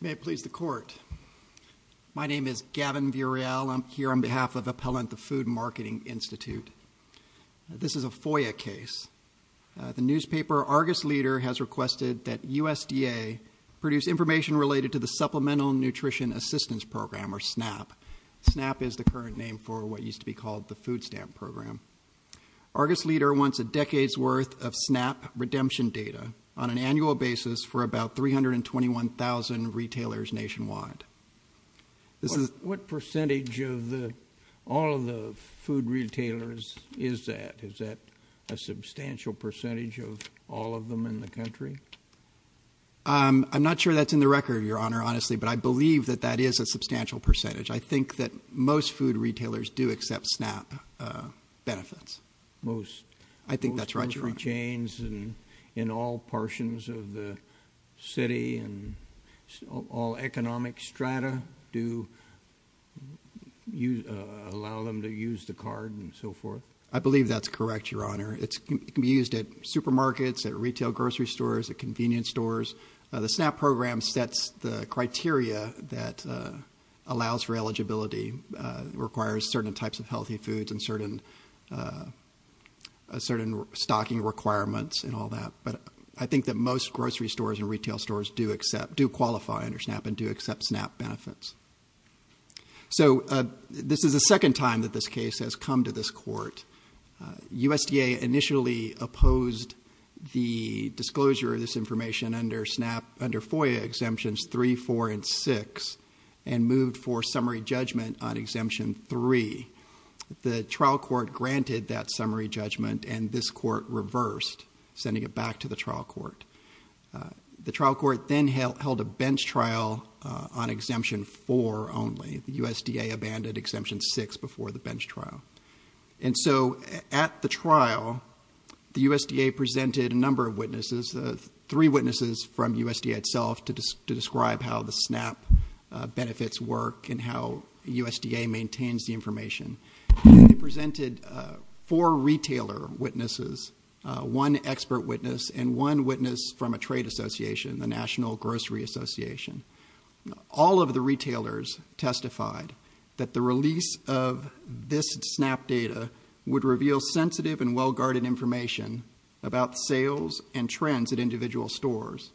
May it please the Court. My name is Gavin Vuriel. I'm here on behalf of Appellant the Food Marketing Institute. This is a FOIA case. The newspaper Argus Leader has requested that USDA produce information related to the Supplemental Nutrition Assistance Program, or SNAP. SNAP is the current name for what used to be called the Food Stamp Program. Argus Leader wants a decade's worth of SNAP redemption data on an annual basis for about 321,000 retailers nationwide. What percentage of all of the food retailers is that? Is that a substantial percentage of all of them in the country? I'm not sure that's in the record, Your Honor, honestly, but I believe that that is a substantial percentage. I think that most food retailers do accept SNAP benefits. Most? I think that's right, Your Honor. Most grocery chains in all portions of the city and all economic strata do allow them to use the card and so forth? I believe that's correct, Your Honor. It can be used at supermarkets, at retail grocery stores, at convenience stores. The SNAP program sets the standard that allows for eligibility, requires certain types of healthy foods and certain stocking requirements and all that, but I think that most grocery stores and retail stores do accept, do qualify under SNAP and do accept SNAP benefits. So this is the second time that this case has come to this Court. USDA initially opposed the disclosure of this information under SNAP, under FOIA Exemptions 3, 4, and 6 and moved for summary judgment on Exemption 3. The trial court granted that summary judgment and this Court reversed, sending it back to the trial court. The trial court then held a bench trial on Exemption 4 only. The USDA abandoned Exemption 6 before the bench trial. And so at the trial, the USDA presented a number of witnesses, three witnesses from USDA itself to describe how the SNAP benefits work and how USDA maintains the information. They presented four retailer witnesses, one expert witness and one witness from a trade association, the National Grocery Association. All of the retailers testified that the release of this SNAP data would reveal sensitive and well-guarded information about sales and trends at individual stores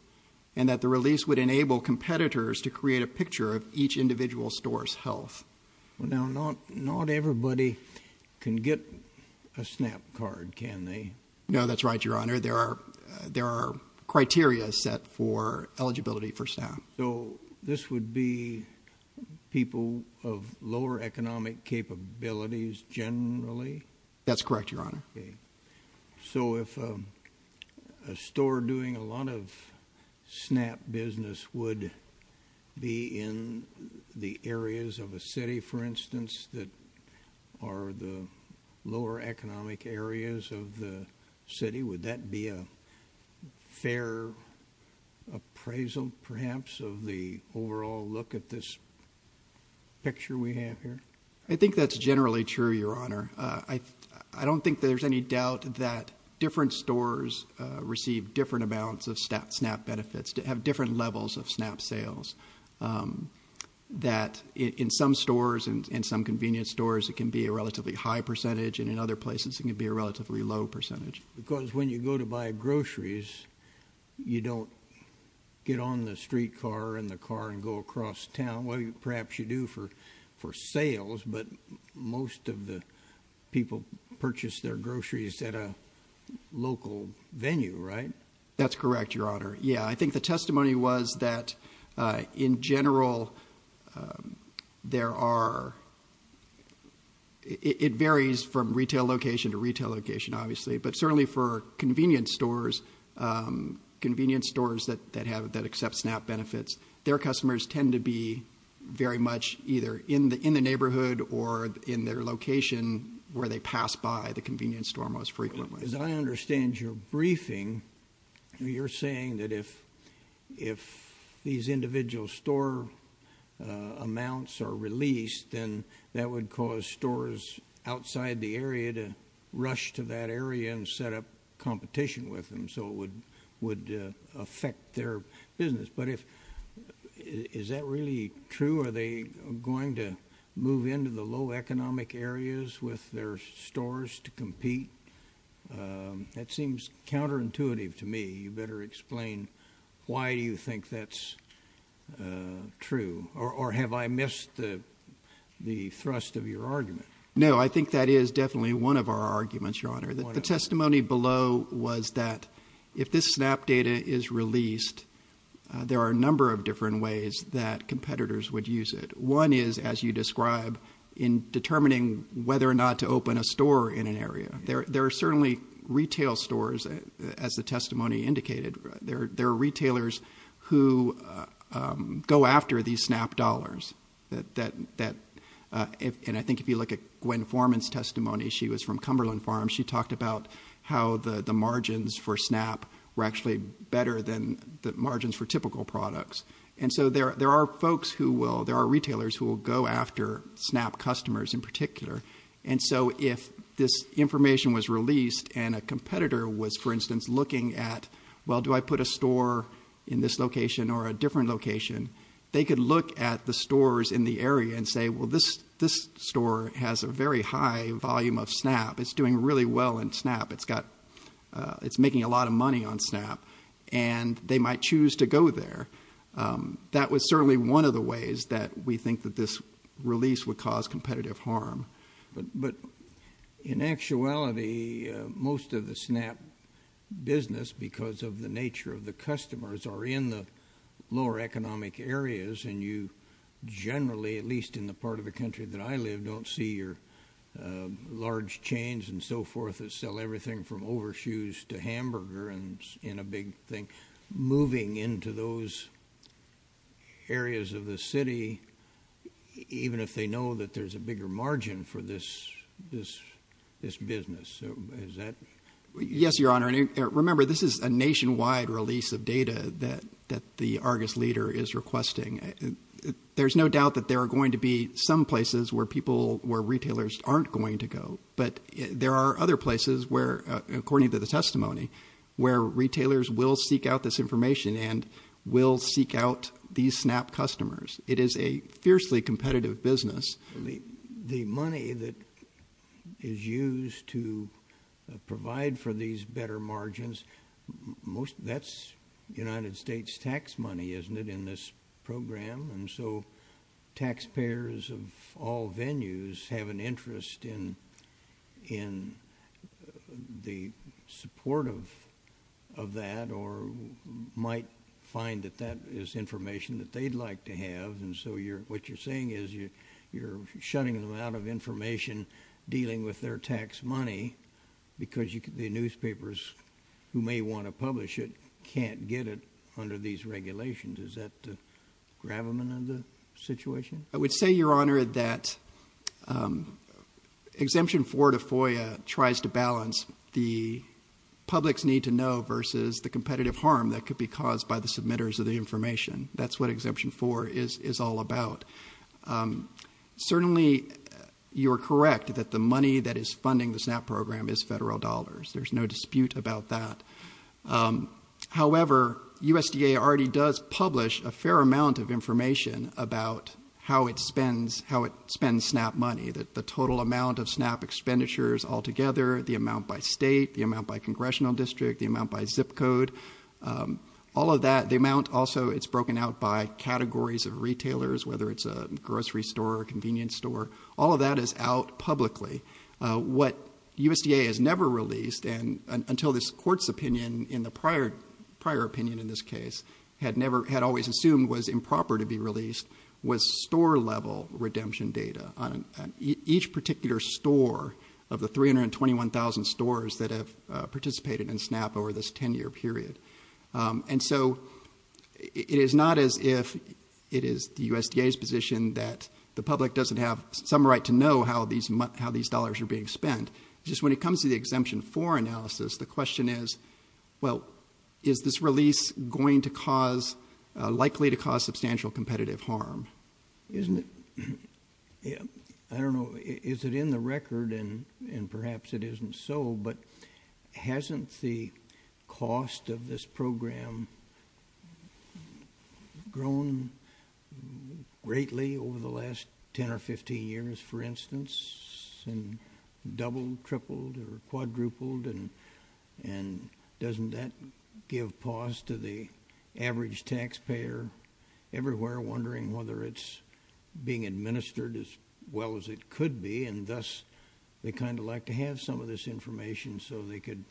and that the release would enable competitors to create a picture of each individual store's health. Well now, not, not everybody can get a SNAP card, can they? No, that's right, Your Honor. There are, there are criteria set for eligibility for SNAP. So this would be people of lower economic capabilities generally? That's correct, Your Honor. So if a store doing a lot of SNAP business would be in the areas of a city, for instance, that are the lower economic areas of the city, would that be a fair appraisal perhaps of the overall look at this picture we have here? I think that's generally true, Your Honor. I, I don't think there's any doubt that different stores receive different amounts of SNAP, SNAP benefits to have different levels of SNAP sales. That in some stores and in some convenience stores, it can be a relatively high percentage and in other places it can be a relatively low percentage. Because when you go to buy groceries, you don't get on the streetcar or in the car and go across town. Well, perhaps you do for, for sales, but most of the people purchase their groceries at a local venue, right? That's correct, Your Honor. Yeah, I think the testimony was that in general, there are, it varies from retail location to retail location, obviously. But certainly for convenience stores, convenience stores that have, that accept SNAP benefits, their customers tend to be very much either in the, in the neighborhood or in their location where they pass by the convenience store most frequently. As I understand your briefing, you're saying that if, if these individual store amounts are released, then that would cause stores outside the area to rush to that area and set up competition with them so it would, would affect their business. But if, is that really true? Are they going to move into the low economic areas with their stores to compete? That seems counterintuitive to me. You better explain why do you think that's true? Or have I missed the thrust of your argument? Your Honor, the testimony below was that if this SNAP data is released, there are a number of different ways that competitors would use it. One is, as you describe, in determining whether or not to open a store in an area. There are certainly retail stores, as the testimony indicated, there are retailers who go after these SNAP dollars. That, and I think if you look at Gwen Forman's testimony, she was from Cumberland Farms. She talked about how the margins for SNAP were actually better than the margins for typical products. And so there are folks who will, there are retailers who will go after SNAP customers in particular. And so if this information was released and a competitor was, for instance, looking at, well, do I put a store in this location or a different location? They could look at the stores in the area and say, well, this store has a very high volume of SNAP. It's doing really well in SNAP. It's making a lot of money on SNAP. And they might choose to go there. That was certainly one of the ways that we think that this release would cause competitive harm. But in actuality, most of the SNAP business, because of the nature of the customers, are in the lower economic areas. And you generally, at least in the part of the country that I live, don't see your large chains and so forth that sell everything from overshoes to hamburger and in a big thing. Moving into those areas of the city, even if they know that there's a bigger margin for this business, is that? Yes, your honor. Remember, this is a nationwide release of data that the Argus leader is requesting. There's no doubt that there are going to be some places where retailers aren't going to go. But there are other places where, according to the testimony, where retailers will seek out this information and will seek out these SNAP customers. It is a fiercely competitive business. The money that is used to provide for these better margins, that's United States tax money, isn't it, in this program? And so taxpayers of all venues have an interest in the support of that, or might find that that is information that they'd like to have. And so what you're saying is you're shutting them out of information dealing with their tax money because the newspapers who may want to publish it can't get it under these regulations. Is that the gravamen of the situation? I would say, your honor, that Exemption 4 to FOIA tries to balance the public's need to know versus the competitive harm that could be caused by the submitters of the information. That's what Exemption 4 is all about. Certainly, you're correct that the money that is funding the SNAP program is federal dollars. There's no dispute about that. However, USDA already does publish a fair amount of information about how it spends SNAP money, that the total amount of SNAP expenditures altogether, the amount by state, the amount by congressional district, the amount by zip code, all of that. The amount also, it's broken out by categories of retailers, whether it's a grocery store or a convenience store. All of that is out publicly. What USDA has never released, and until this court's opinion in the prior opinion in this case, had always assumed was improper to be released, was store-level redemption data on each particular store of the 321,000 stores that have participated in SNAP over this 10-year period. And so, it is not as if it is the USDA's position that the public doesn't have some right to know how these dollars are being spent. Just when it comes to the Exemption 4 analysis, the question is, well, is this release going to cause, likely to cause substantial competitive harm? Isn't it, I don't know, is it in the record, and perhaps it isn't so, but hasn't the cost of this program grown greatly over the last 10 or 15 years, for instance, and doubled, tripled, or quadrupled, and doesn't that give pause to the average taxpayer everywhere wondering whether it's being administered as well as it could be, and thus, they kind of like to have some of this information so they could,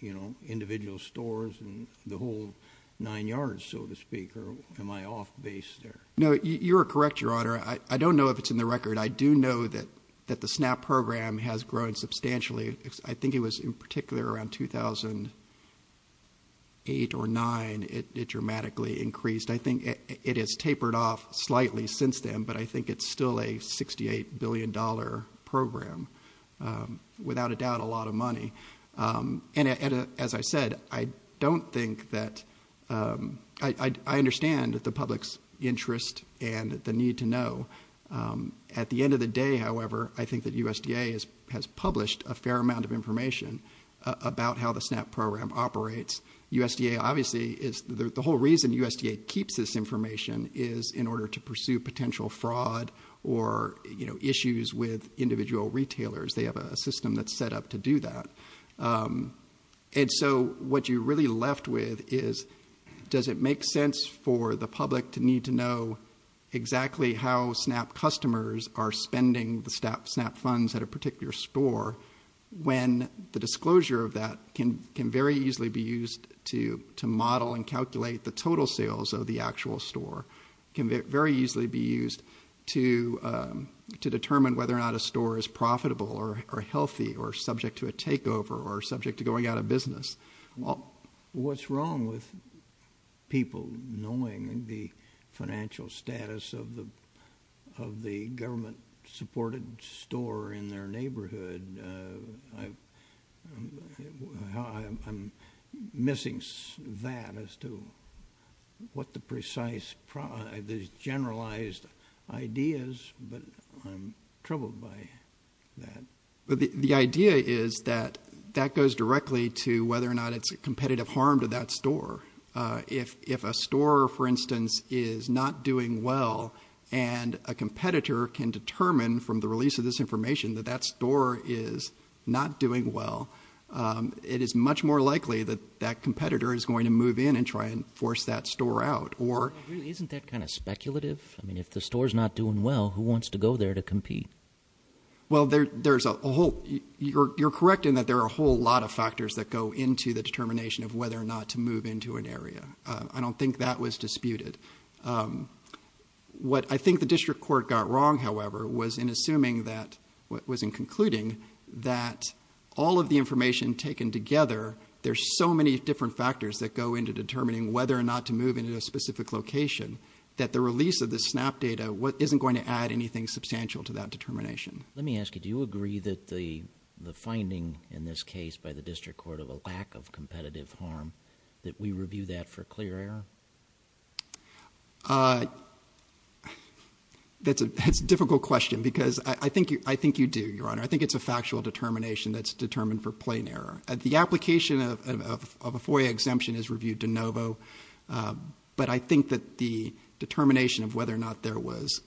you know, individual stores and the whole nine yards, so to speak, or am I off base there? No, you're correct, Your Honor. I don't know if it's in the record. I do know that the SNAP program has grown substantially. I think it was in particular around 2008 or 9, it dramatically increased. I think it has tapered off slightly since then, but I think it's still a $68 billion program, without a doubt, a lot of money. And as I said, I don't think that, I understand the public's interest and the need to know. At the end of the day, however, I think that USDA has published a fair amount of information about how the SNAP program operates. USDA obviously is, the whole reason USDA keeps this information is in order to pursue potential fraud. Or issues with individual retailers, they have a system that's set up to do that. And so, what you're really left with is, does it make sense for the public to need to know exactly how SNAP customers are spending the SNAP funds at a particular store? When the disclosure of that can very easily be used to model and calculate the total sales of the actual store, can very easily be used to determine whether or not a store is profitable or healthy, or subject to a takeover, or subject to going out of business. What's wrong with people knowing the financial status of the government supported store in their neighborhood? I'm missing that as to what the precise, the generalized ideas, but I'm troubled by that. But the idea is that that goes directly to whether or not it's a competitive harm to that store. If a store, for instance, is not doing well, and a competitor can determine from the release of this information that that store is not doing well, it is much more likely that that competitor is going to move in and try and force that store out. Or- Isn't that kind of speculative? I mean, if the store's not doing well, who wants to go there to compete? Well, you're correct in that there are a whole lot of factors that go into the determination of whether or not to move into an area. I don't think that was disputed. What I think the district court got wrong, however, was in assuming that, was in concluding that all of the information taken together, there's so many different factors that go into determining whether or not to move into a specific location. That the release of the SNAP data isn't going to add anything substantial to that determination. Let me ask you, do you agree that the finding in this case by the district court of a lack of competitive harm, that we review that for clear error? That's a difficult question, because I think you do, Your Honor. I think it's a factual determination that's determined for plain error. The application of a FOIA exemption is reviewed de novo, but I think that the determination of whether or not there was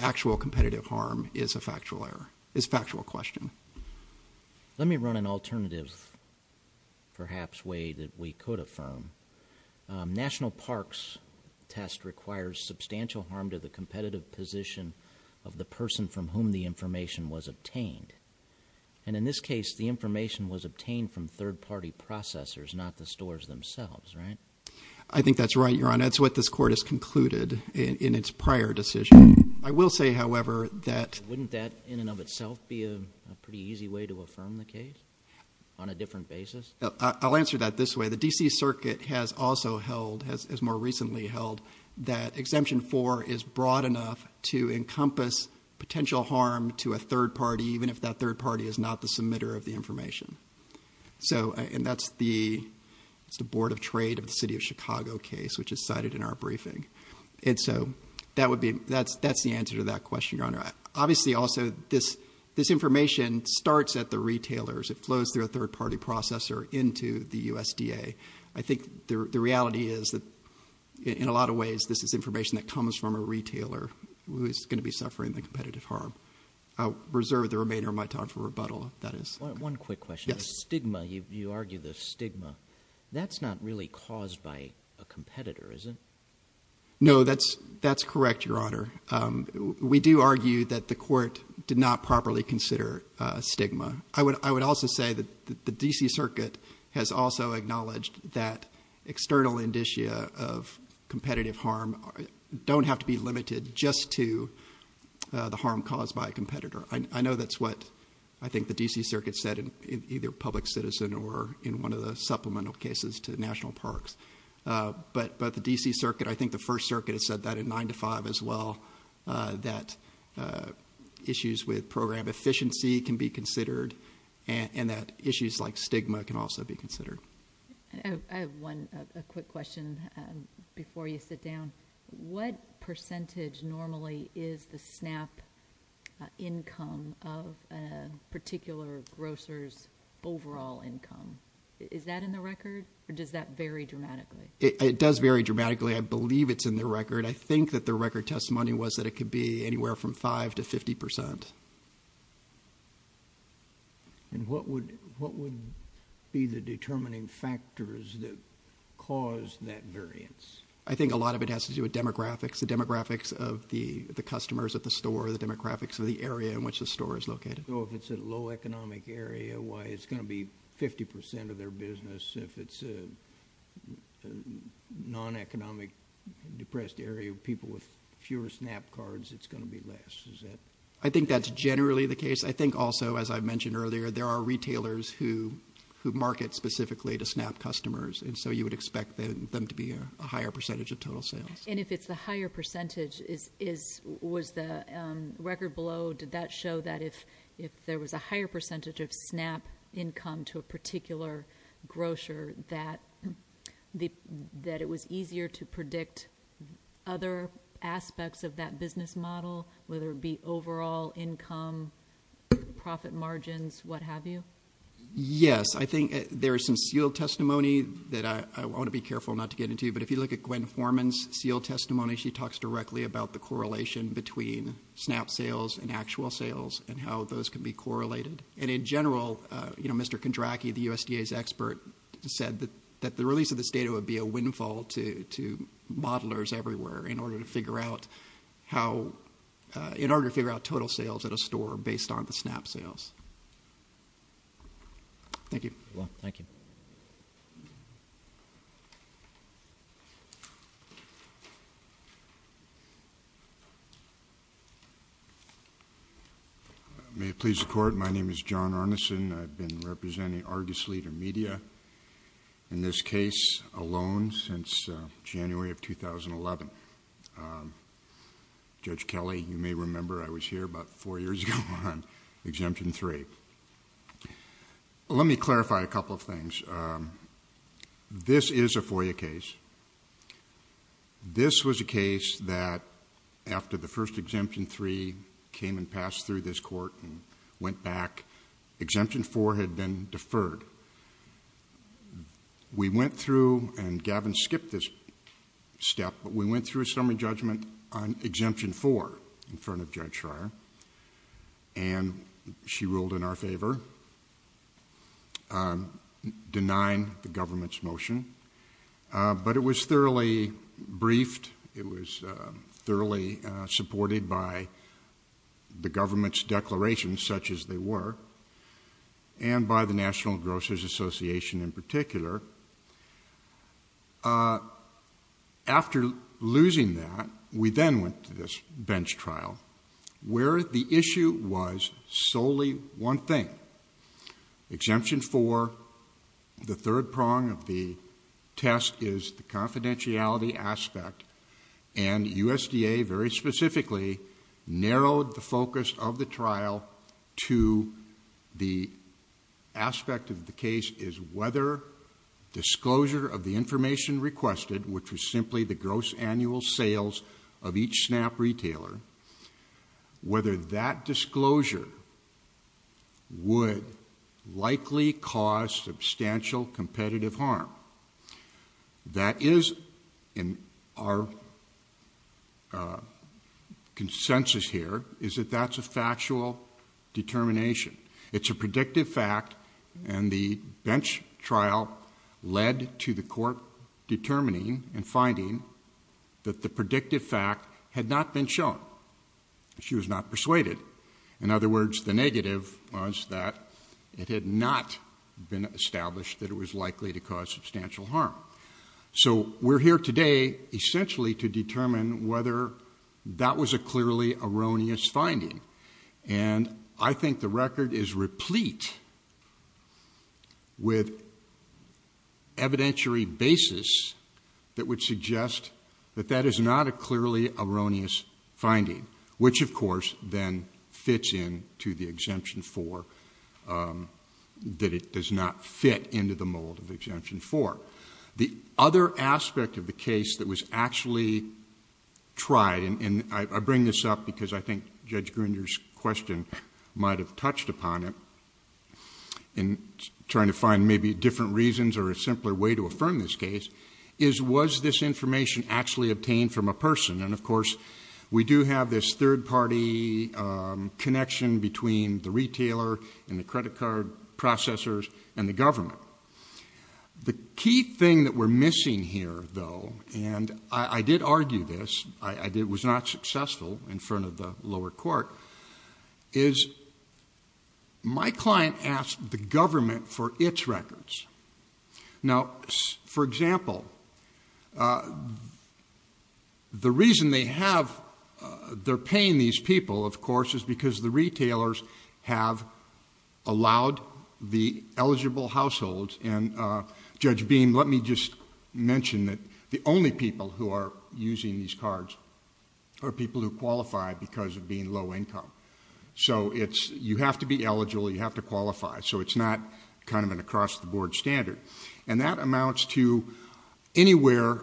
actual competitive harm is a factual question. Let me run an alternative, perhaps, way that we could affirm. National parks test requires substantial harm to the competitive position of the person from whom the information was obtained. And in this case, the information was obtained from third party processors, not the stores themselves, right? I think that's right, Your Honor. That's what this court has concluded in its prior decision. I will say, however, that- Wouldn't that, in and of itself, be a pretty easy way to affirm the case on a different basis? I'll answer that this way. The DC Circuit has also held, has more recently held, that exemption four is broad enough to encompass potential harm to a third party, even if that third party is not the submitter of the information. So, and that's the Board of Trade of the City of Chicago case, which is cited in our briefing. And so, that's the answer to that question, Your Honor. Obviously, also, this information starts at the retailers. It flows through a third party processor into the USDA. I think the reality is that, in a lot of ways, this is information that comes from a retailer who is going to be suffering the competitive harm. I'll reserve the remainder of my time for rebuttal, if that is- One quick question. Yes. Stigma, you argue the stigma, that's not really caused by a competitor, is it? No, that's correct, Your Honor. We do argue that the court did not properly consider stigma. I would also say that the DC Circuit has also acknowledged that external indicia of competitive harm don't have to be limited just to the harm caused by a competitor. I know that's what I think the DC Circuit said in either Public Citizen or in one of the supplemental cases to National Parks. But the DC Circuit, I think the First Circuit has said that at nine to five as well, that issues with program efficiency can be considered, and that issues like stigma can also be considered. I have one quick question before you sit down. What percentage normally is the SNAP income of a particular grocer's overall income? Is that in the record, or does that vary dramatically? It does vary dramatically. I believe it's in the record. I think that the record testimony was that it could be anywhere from five to 50%. And what would be the determining factors that cause that variance? I think a lot of it has to do with demographics. The demographics of the customers at the store, the demographics of the area in which the store is located. So if it's a low economic area, why, it's going to be 50% of their business. If it's a non-economic depressed area, people with fewer SNAP cards, it's going to be less, is that? I think that's generally the case. I think also, as I mentioned earlier, there are retailers who market specifically to SNAP customers. And so you would expect them to be a higher percentage of total sales. And if it's the higher percentage, was the record below, did that show that if there was a higher percentage of SNAP income to a particular grocer that it was easier to predict other aspects of that business model, whether it be overall income, profit margins, what have you? Yes, I think there's some sealed testimony that I want to be careful not to get into. But if you look at Gwen Forman's sealed testimony, she talks directly about the correlation between SNAP sales and actual sales and how those can be correlated. And in general, Mr. Kondracky, the USDA's expert, said that the release of this data would be a windfall to modelers everywhere in order to figure out total sales at a store based on the SNAP sales. Thank you. Well, thank you. May it please the court, my name is John Arneson. I've been representing Argus Leader Media in this case alone since January of 2011. Judge Kelly, you may remember I was here about four years ago on exemption three. Let me clarify a couple of things. This is a FOIA case. This was a case that after the first exemption three came and passed through this court and went back, exemption four had been deferred. We went through, and Gavin skipped this step, but we went through a summary judgment on exemption four in front of Judge Schreier. And she ruled in our favor, denying the government's motion. But it was thoroughly briefed, it was thoroughly supported by the government's declarations, such as they were, and by the National Grocers Association in particular. After losing that, we then went to this bench trial where the issue was solely one thing. Exemption four, the third prong of the test is the confidentiality aspect. And USDA very specifically narrowed the focus of the trial to the aspect of the case is whether disclosure of the information requested, which was simply the gross annual sales of each snap retailer, whether that disclosure would likely cause substantial competitive harm. That is in our consensus here, is that that's a factual determination. It's a predictive fact, and the bench trial led to the court determining and finding that the predictive fact had not been shown, she was not persuaded. In other words, the negative was that it had not been established that it was likely to cause substantial harm. So we're here today essentially to determine whether that was a clearly erroneous finding. And I think the record is replete with evidentiary basis that would suggest that that is not a clearly erroneous finding. Which of course then fits in to the exemption four, that it does not fit into the mold of exemption four. The other aspect of the case that was actually tried, and I bring this up because I think Judge Gruner's question might have touched upon it. In trying to find maybe different reasons or a simpler way to affirm this case, is was this information actually obtained from a person? And of course, we do have this third party connection between the retailer and the credit card processors and the government. The key thing that we're missing here though, and I did argue this, I was not successful in front of the lower court, is my client asked the government for its records. Now, for example, the reason they're paying these people, of course, is because the retailers have allowed the eligible households. And Judge Beam, let me just mention that the only people who are using these cards are people who qualify because of being low income. So you have to be eligible, you have to qualify. So it's not kind of an across the board standard. And that amounts to anywhere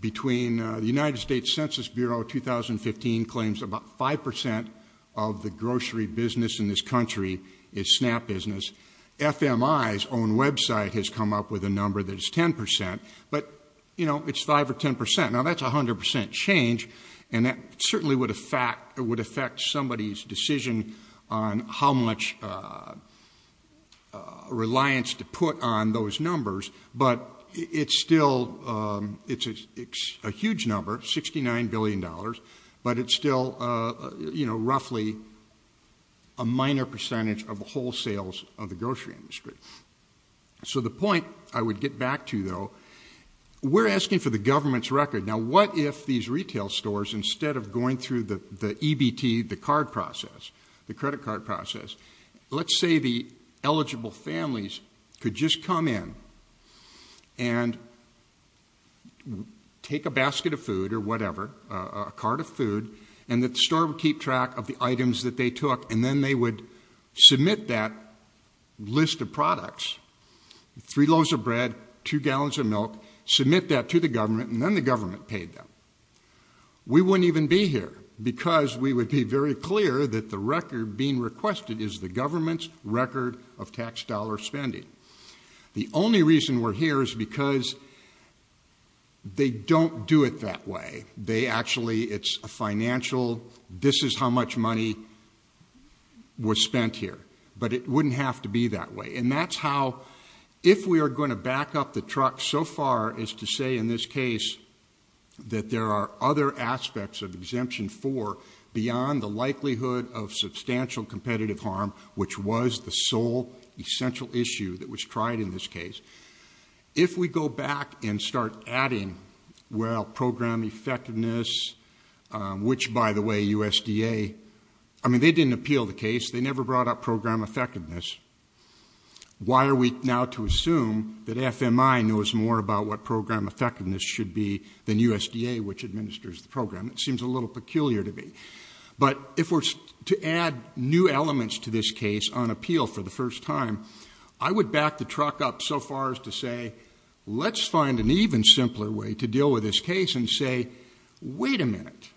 between the United States Census Bureau, 2015 claims about 5% of the grocery business in this country is SNAP business. FMI's own website has come up with a number that is 10%, but it's 5 or 10%. Now that's 100% change, and that certainly would affect somebody's decision on how much reliance to put on those numbers. But it's still a huge number, $69 billion. But it's still roughly a minor percentage of the whole sales of the grocery industry. So the point I would get back to though, we're asking for the government's record. Now what if these retail stores, instead of going through the EBT, the card process, the credit card process. Let's say the eligible families could just come in and take a basket of food or whatever, a cart of food, and that the store would keep track of the items that they took. And then they would submit that list of products, three loaves of bread, two gallons of milk, submit that to the government, and then the government paid them. We wouldn't even be here, because we would be very clear that the record being requested is the government's record of tax dollar spending. The only reason we're here is because they don't do it that way. They actually, it's a financial, this is how much money was spent here. But it wouldn't have to be that way. And that's how, if we are going to back up the truck so far as to say in this case, that there are other aspects of exemption four beyond the likelihood of substantial competitive harm, which was the sole essential issue that was tried in this case. If we go back and start adding, well, program effectiveness, which by the way, USDA, I mean, they didn't appeal the case. They never brought up program effectiveness. Why are we now to assume that FMI knows more about what program effectiveness should be than USDA, which administers the program? It seems a little peculiar to me. But if we're to add new elements to this case on appeal for the first time, I would back the truck up so far as to say, let's find an even simpler way to deal with this case and to say, wait a minute,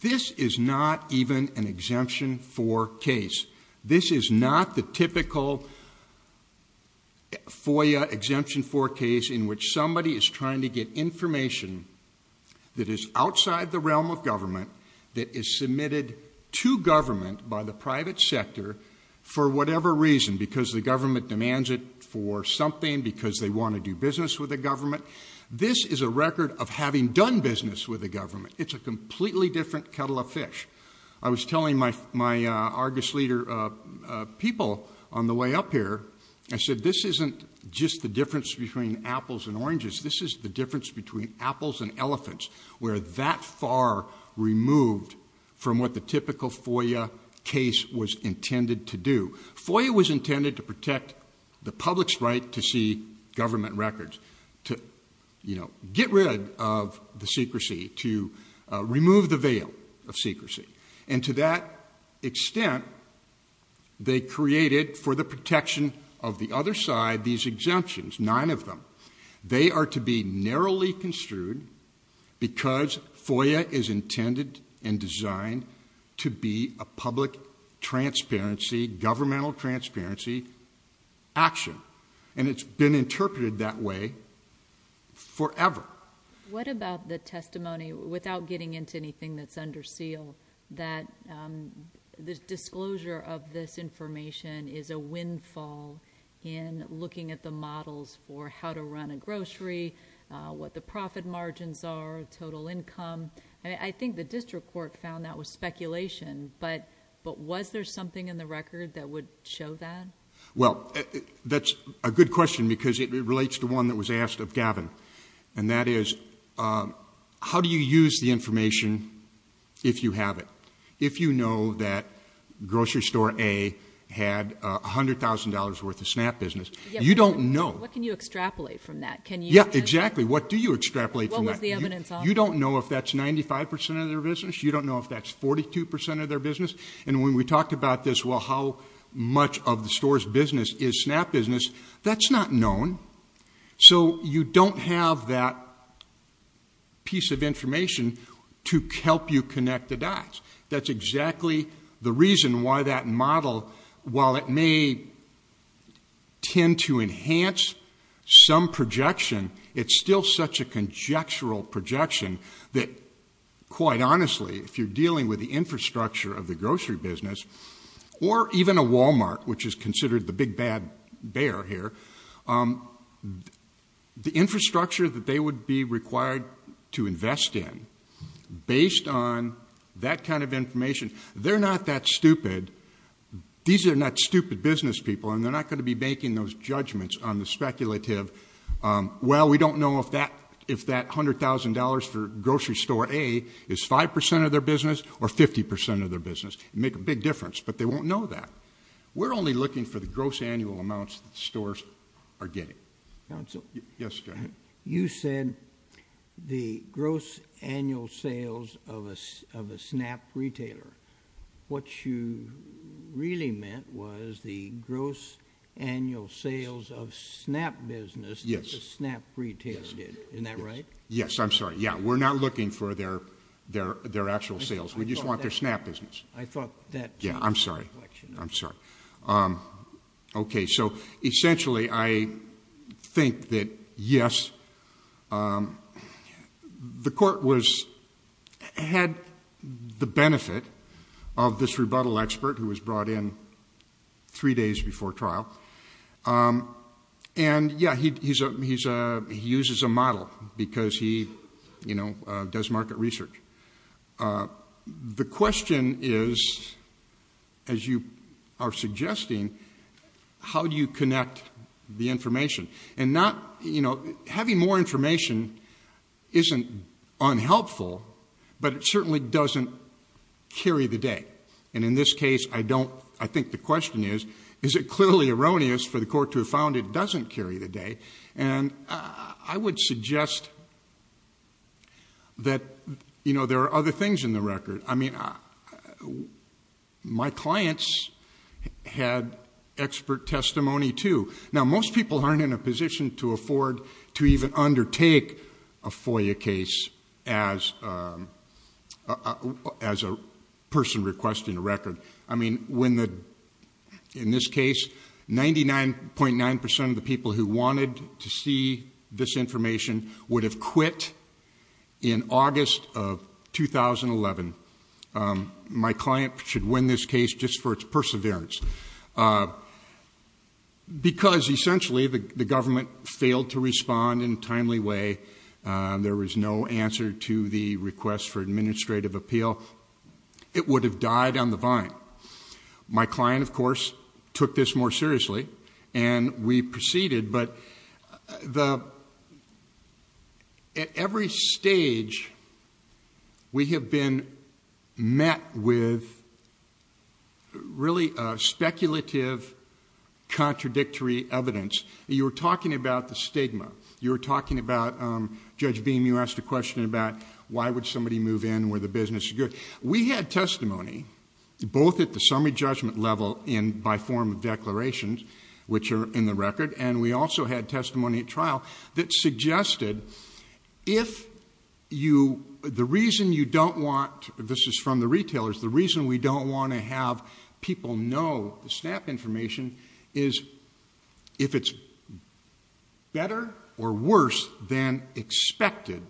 this is not even an exemption four case. This is not the typical FOIA exemption for case in which somebody is trying to get information that is outside the realm of government, that is submitted to government by the private sector for whatever reason, because the government demands it for something, because they want to do business with the government. This is a record of having done business with the government. It's a completely different kettle of fish. I was telling my Argus leader people on the way up here, I said this isn't just the difference between apples and oranges, this is the difference between apples and elephants, we're that far removed from what the typical FOIA case was intended to do. FOIA was intended to protect the public's right to see government records, to get rid of the secrecy, to remove the veil of secrecy. And to that extent, they created, for the protection of the other side, these exemptions, nine of them. They are to be narrowly construed because FOIA is intended and is a fundamental transparency action, and it's been interpreted that way forever. What about the testimony, without getting into anything that's under seal, that the disclosure of this information is a windfall in looking at the models for how to run a grocery, what the profit margins are, total income. I think the district court found that was speculation, but was there something in the record that would show that? Well, that's a good question because it relates to one that was asked of Gavin. And that is, how do you use the information if you have it? If you know that grocery store A had $100,000 worth of SNAP business, you don't know. What can you extrapolate from that? Can you- Yeah, exactly, what do you extrapolate from that? What was the evidence of? You don't know if that's 95% of their business, you don't know if that's 42% of their business. And when we talked about this, well, how much of the store's business is SNAP business, that's not known. So you don't have that piece of information to help you connect the dots. That's exactly the reason why that model, while it may tend to enhance some projection, it's still such a conjectural projection that, quite honestly, if you're dealing with the infrastructure of the grocery business, or even a Walmart, which is considered the big bad bear here, the infrastructure that they would be required to invest in, based on that kind of information, they're not that stupid, these are not stupid business people, and they're not going to be making those judgments on the speculative, well, we don't know if that $100,000 for grocery store A is 5% of their business or 50% of their business. It'd make a big difference, but they won't know that. We're only looking for the gross annual amounts that stores are getting. Council? Yes, go ahead. You said the gross annual sales of a SNAP retailer. What you really meant was the gross annual sales of SNAP business. Yes. That the SNAP retailer did, isn't that right? Yes, I'm sorry, yeah, we're not looking for their actual sales. We just want their SNAP business. I thought that- Yeah, I'm sorry, I'm sorry. Okay, so essentially, I think that yes, the court had the benefit of this rebuttal expert who was brought in three days before trial. And yeah, he uses a model because he does market research. The question is, as you are suggesting, how do you connect the information? And having more information isn't unhelpful, but it certainly doesn't carry the day. And in this case, I think the question is, is it clearly erroneous for the court to have found it doesn't carry the day? And I would suggest that there are other things in the record. I mean, my clients had expert testimony too. Now, most people aren't in a position to afford to even undertake a FOIA case as a person requesting a record. I mean, in this case, 99.9% of the people who wanted to see this information would have quit in August of 2011. My client should win this case just for its perseverance. Because essentially, the government failed to respond in a timely way. There was no answer to the request for administrative appeal. It would have died on the vine. My client, of course, took this more seriously, and we proceeded. But at every stage, we have been met with really speculative, contradictory evidence. You were talking about the stigma. You were talking about, Judge Beam, you asked a question about why would somebody move in where the business is good. We had testimony, both at the summary judgment level and by form of declarations, which are in the record. And we also had testimony at trial that suggested, if the reason you don't want, this is from the retailers, the reason we don't want to have people know the SNAP information is, if it's better or worse than expected,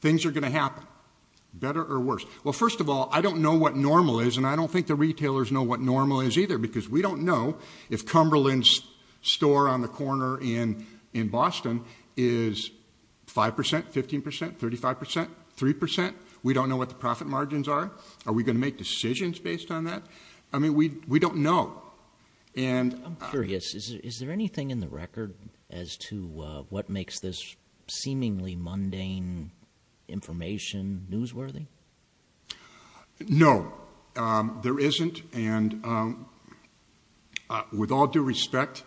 things are going to happen. Better or worse? Well, first of all, I don't know what normal is, and I don't think the retailers know what normal is either. Because we don't know if Cumberland's store on the corner in Boston is 5%, 15%, 35%, 3%. We don't know what the profit margins are. Are we going to make decisions based on that? I mean, we don't know. And- I'm curious, is there anything in the record as to what makes this seemingly mundane information newsworthy? No, there isn't. And with all due respect,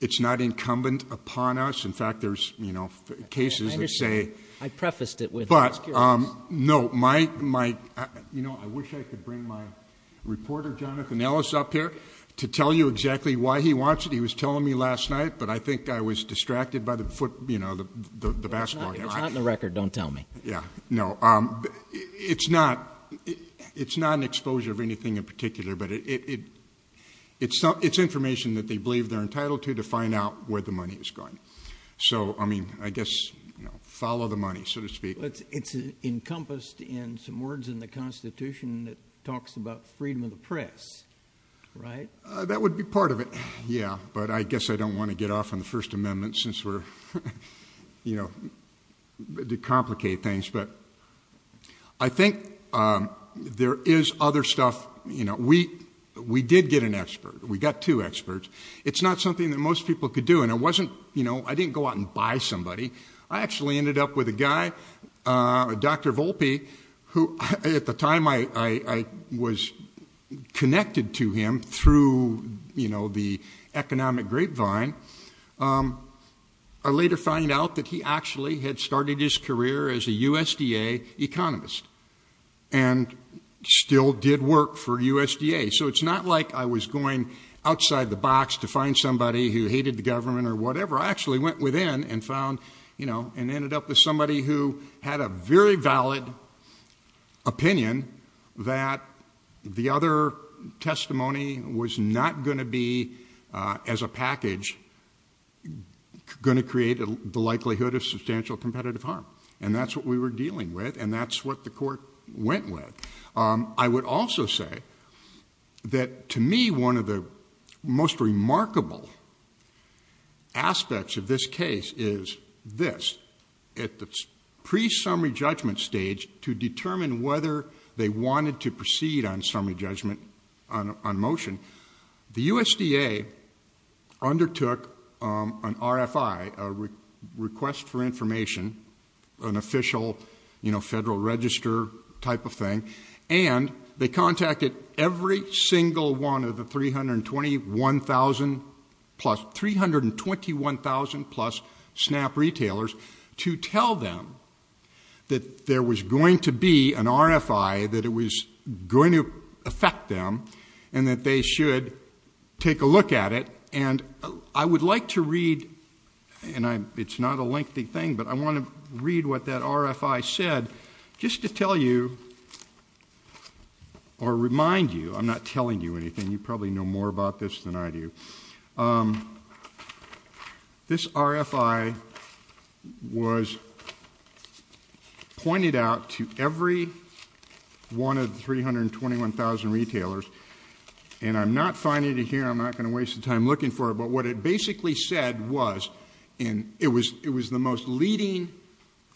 it's not incumbent upon us. In fact, there's cases that say- I prefaced it with, I was curious. No, I wish I could bring my reporter, Jonathan Ellis, up here to tell you exactly why he wants it. He was telling me last night, but I think I was distracted by the foot, the basketball game. It's not in the record, don't tell me. Yeah, no, it's not an exposure of anything in particular, but it's information that they believe they're entitled to to find out where the money is going. So, I mean, I guess, follow the money, so to speak. It's encompassed in some words in the Constitution that talks about freedom of the press, right? That would be part of it, yeah. But I guess I don't want to get off on the First Amendment since we're, you know, to complicate things. But I think there is other stuff. You know, we did get an expert. We got two experts. It's not something that most people could do. And it wasn't, you know, I didn't go out and buy somebody. I actually ended up with a guy, Dr. Volpe, who at the time I was connected to him through, you know, the economic grapevine. I later find out that he actually had started his career as a USDA economist and still did work for USDA. So, it's not like I was going outside the box to find somebody who hated the government or whatever. I actually went within and found, you know, and ended up with somebody who had a very valid opinion that the other testimony was not going to be, as a package, going to create the likelihood of substantial competitive harm. And that's what we were dealing with, and that's what the court went with. I would also say that, to me, one of the most remarkable aspects of this case is this. At the pre-summary judgment stage, to determine whether they wanted to proceed on summary judgment, on motion, the USDA undertook an RFI, a request for information, an official, you know, federal register type of thing. And they contacted every single one of the 321,000 plus, 321,000 plus SNAP retailers to tell them that there was going to be an RFI, that it was going to affect them, and that they should take a look at it. And I would like to read, and it's not a lengthy thing, but I want to read what that RFI said, just to tell you, or remind you, I'm not telling you anything, you probably know more about this than I do. This RFI was pointed out to every one of the 321,000 retailers. And I'm not finding it here, I'm not going to waste the time looking for it, but what it basically said was, and it was the most leading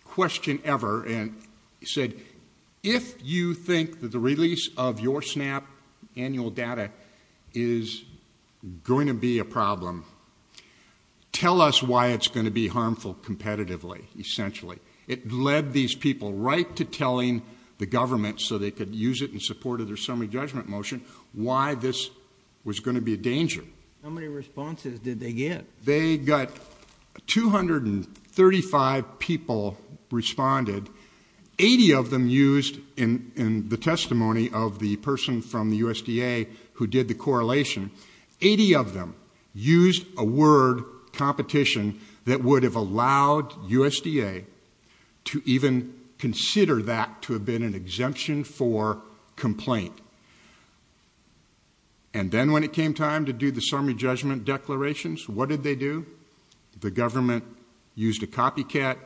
question ever, and said, if you think that the release of your SNAP annual data is going to be a problem, tell us why it's going to be harmful competitively, essentially. It led these people right to telling the government, so they could use it in support of their summary judgment motion, why this was going to be a danger. How many responses did they get? They got 235 people responded. 80 of them used, in the testimony of the person from the USDA who did the correlation, 80 of them used a word, competition, that would have allowed USDA to even consider that to have been an exemption for complaint. And then when it came time to do the summary judgment declarations, what did they do? The government used a copycat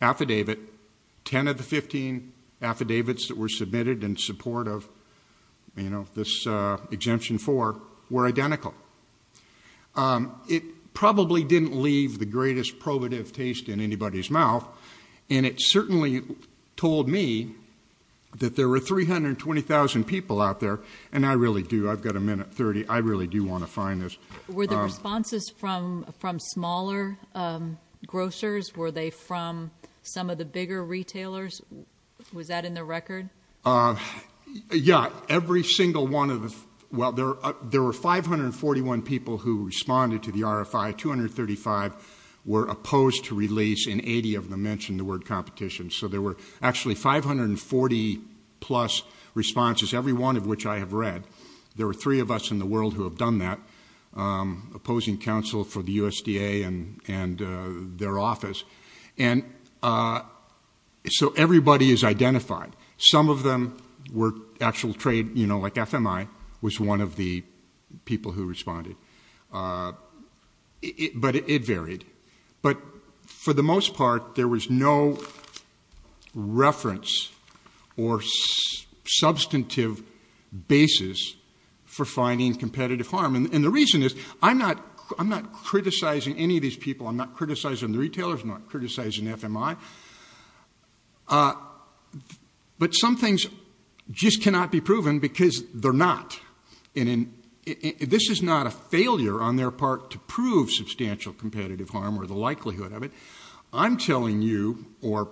affidavit. Ten of the 15 affidavits that were submitted in support of this exemption four were identical. It probably didn't leave the greatest probative taste in anybody's mouth, and it certainly told me that there were 320,000 people out there. And I really do, I've got a minute 30, I really do want to find this. Were the responses from smaller grocers? Were they from some of the bigger retailers? Was that in the record? Yeah, every single one of the, well, there were 541 people who responded to the RFI. 235 were opposed to release, and 80 of them mentioned the word competition. So there were actually 540 plus responses, every one of which I have read. There were three of us in the world who have done that, opposing counsel for the USDA and their office. And so everybody is identified. Some of them were actual trade, like FMI was one of the people who responded. But it varied. But for the most part, there was no reference or evidence for finding competitive harm. And the reason is, I'm not criticizing any of these people. I'm not criticizing the retailers. I'm not criticizing FMI. But some things just cannot be proven because they're not. And this is not a failure on their part to prove substantial competitive harm or the likelihood of it. I'm telling you, or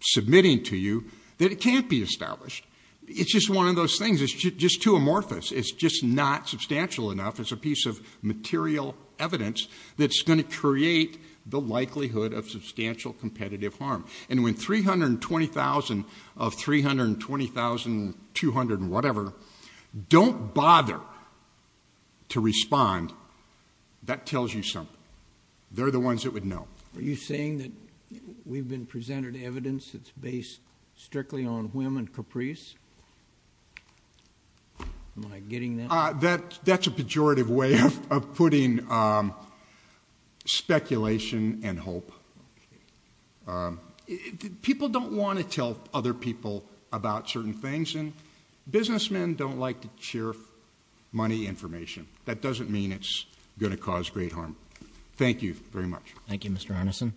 submitting to you, that it can't be established. It's just one of those things. It's just too amorphous. It's just not substantial enough. It's a piece of material evidence that's going to create the likelihood of substantial competitive harm. And when 320,000 of 320,200 and whatever don't bother to respond, that tells you something. They're the ones that would know. Are you saying that we've been presented evidence that's based strictly on whim and caprice? Am I getting that? That's a pejorative way of putting speculation and hope. People don't want to tell other people about certain things, and businessmen don't like to share money information. That doesn't mean it's going to cause great harm. Thank you very much. Thank you, Mr. Arneson.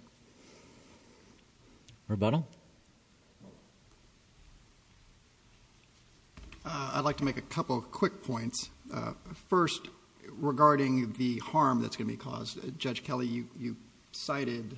Rebuttal? I'd like to make a couple quick points. First, regarding the harm that's going to be caused. Judge Kelly, you cited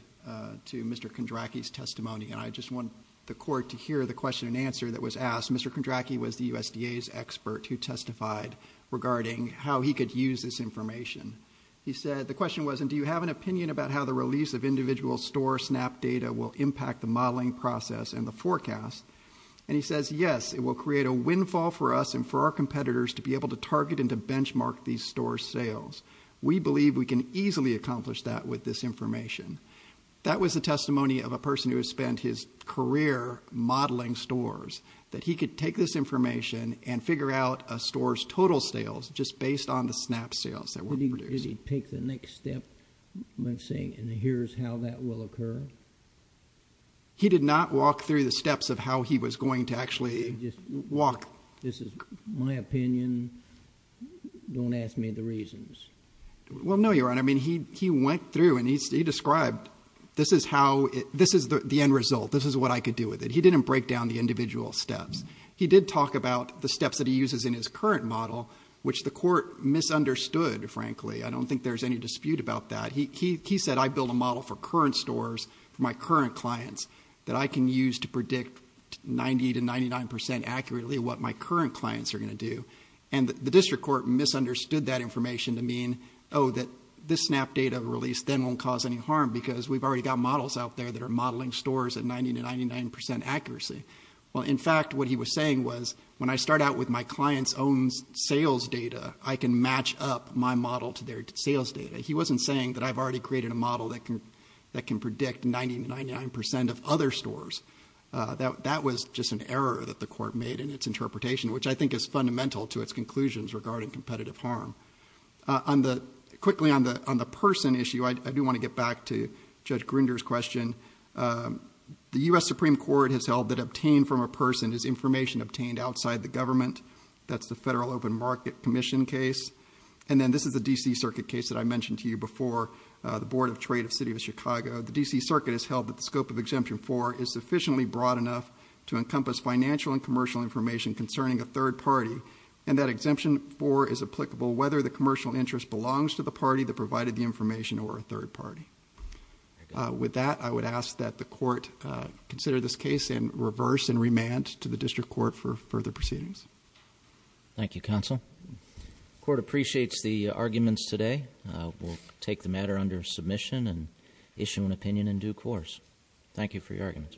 to Mr. Kondracky's testimony, and I just want the court to hear the question and answer that was asked. Mr. Kondracky was the USDA's expert who testified regarding how he could use this information. He said, the question was, and do you have an opinion about how the release of individual store SNAP data will impact the modeling process and the forecast? And he says, yes, it will create a windfall for us and for our competitors to be able to target and to benchmark these store sales. We believe we can easily accomplish that with this information. That was the testimony of a person who has spent his career modeling stores, that he could take this information and figure out a store's total sales just based on the SNAP sales that were produced. Did he take the next step in saying, and here's how that will occur? He did not walk through the steps of how he was going to actually walk. This is my opinion, don't ask me the reasons. Well, no, Your Honor, I mean, he went through and he described, this is the end result. This is what I could do with it. He didn't break down the individual steps. He did talk about the steps that he uses in his current model, which the court misunderstood, frankly. I don't think there's any dispute about that. He said, I build a model for current stores, for my current clients, that I can use to predict 90 to 99% accurately what my current clients are going to do. And the district court misunderstood that information to mean, that this SNAP data release then won't cause any harm. Because we've already got models out there that are modeling stores at 90 to 99% accuracy. Well, in fact, what he was saying was, when I start out with my client's own sales data, I can match up my model to their sales data. He wasn't saying that I've already created a model that can predict 90 to 99% of other stores. That was just an error that the court made in its interpretation, which I think is fundamental to its conclusions regarding competitive harm. Quickly on the person issue, I do want to get back to Judge Grinder's question. The US Supreme Court has held that obtained from a person is information obtained outside the government. That's the Federal Open Market Commission case. And then this is the DC Circuit case that I mentioned to you before, the Board of Trade of the City of Chicago. The DC Circuit has held that the scope of Exemption 4 is sufficiently broad enough to encompass financial and commercial information concerning a third party. And that Exemption 4 is applicable whether the commercial interest belongs to the party that provided the information or a third party. With that, I would ask that the court consider this case in reverse and remand to the district court for further proceedings. Thank you, counsel. Court appreciates the arguments today. We'll take the matter under submission and issue an opinion in due course. Thank you for your arguments.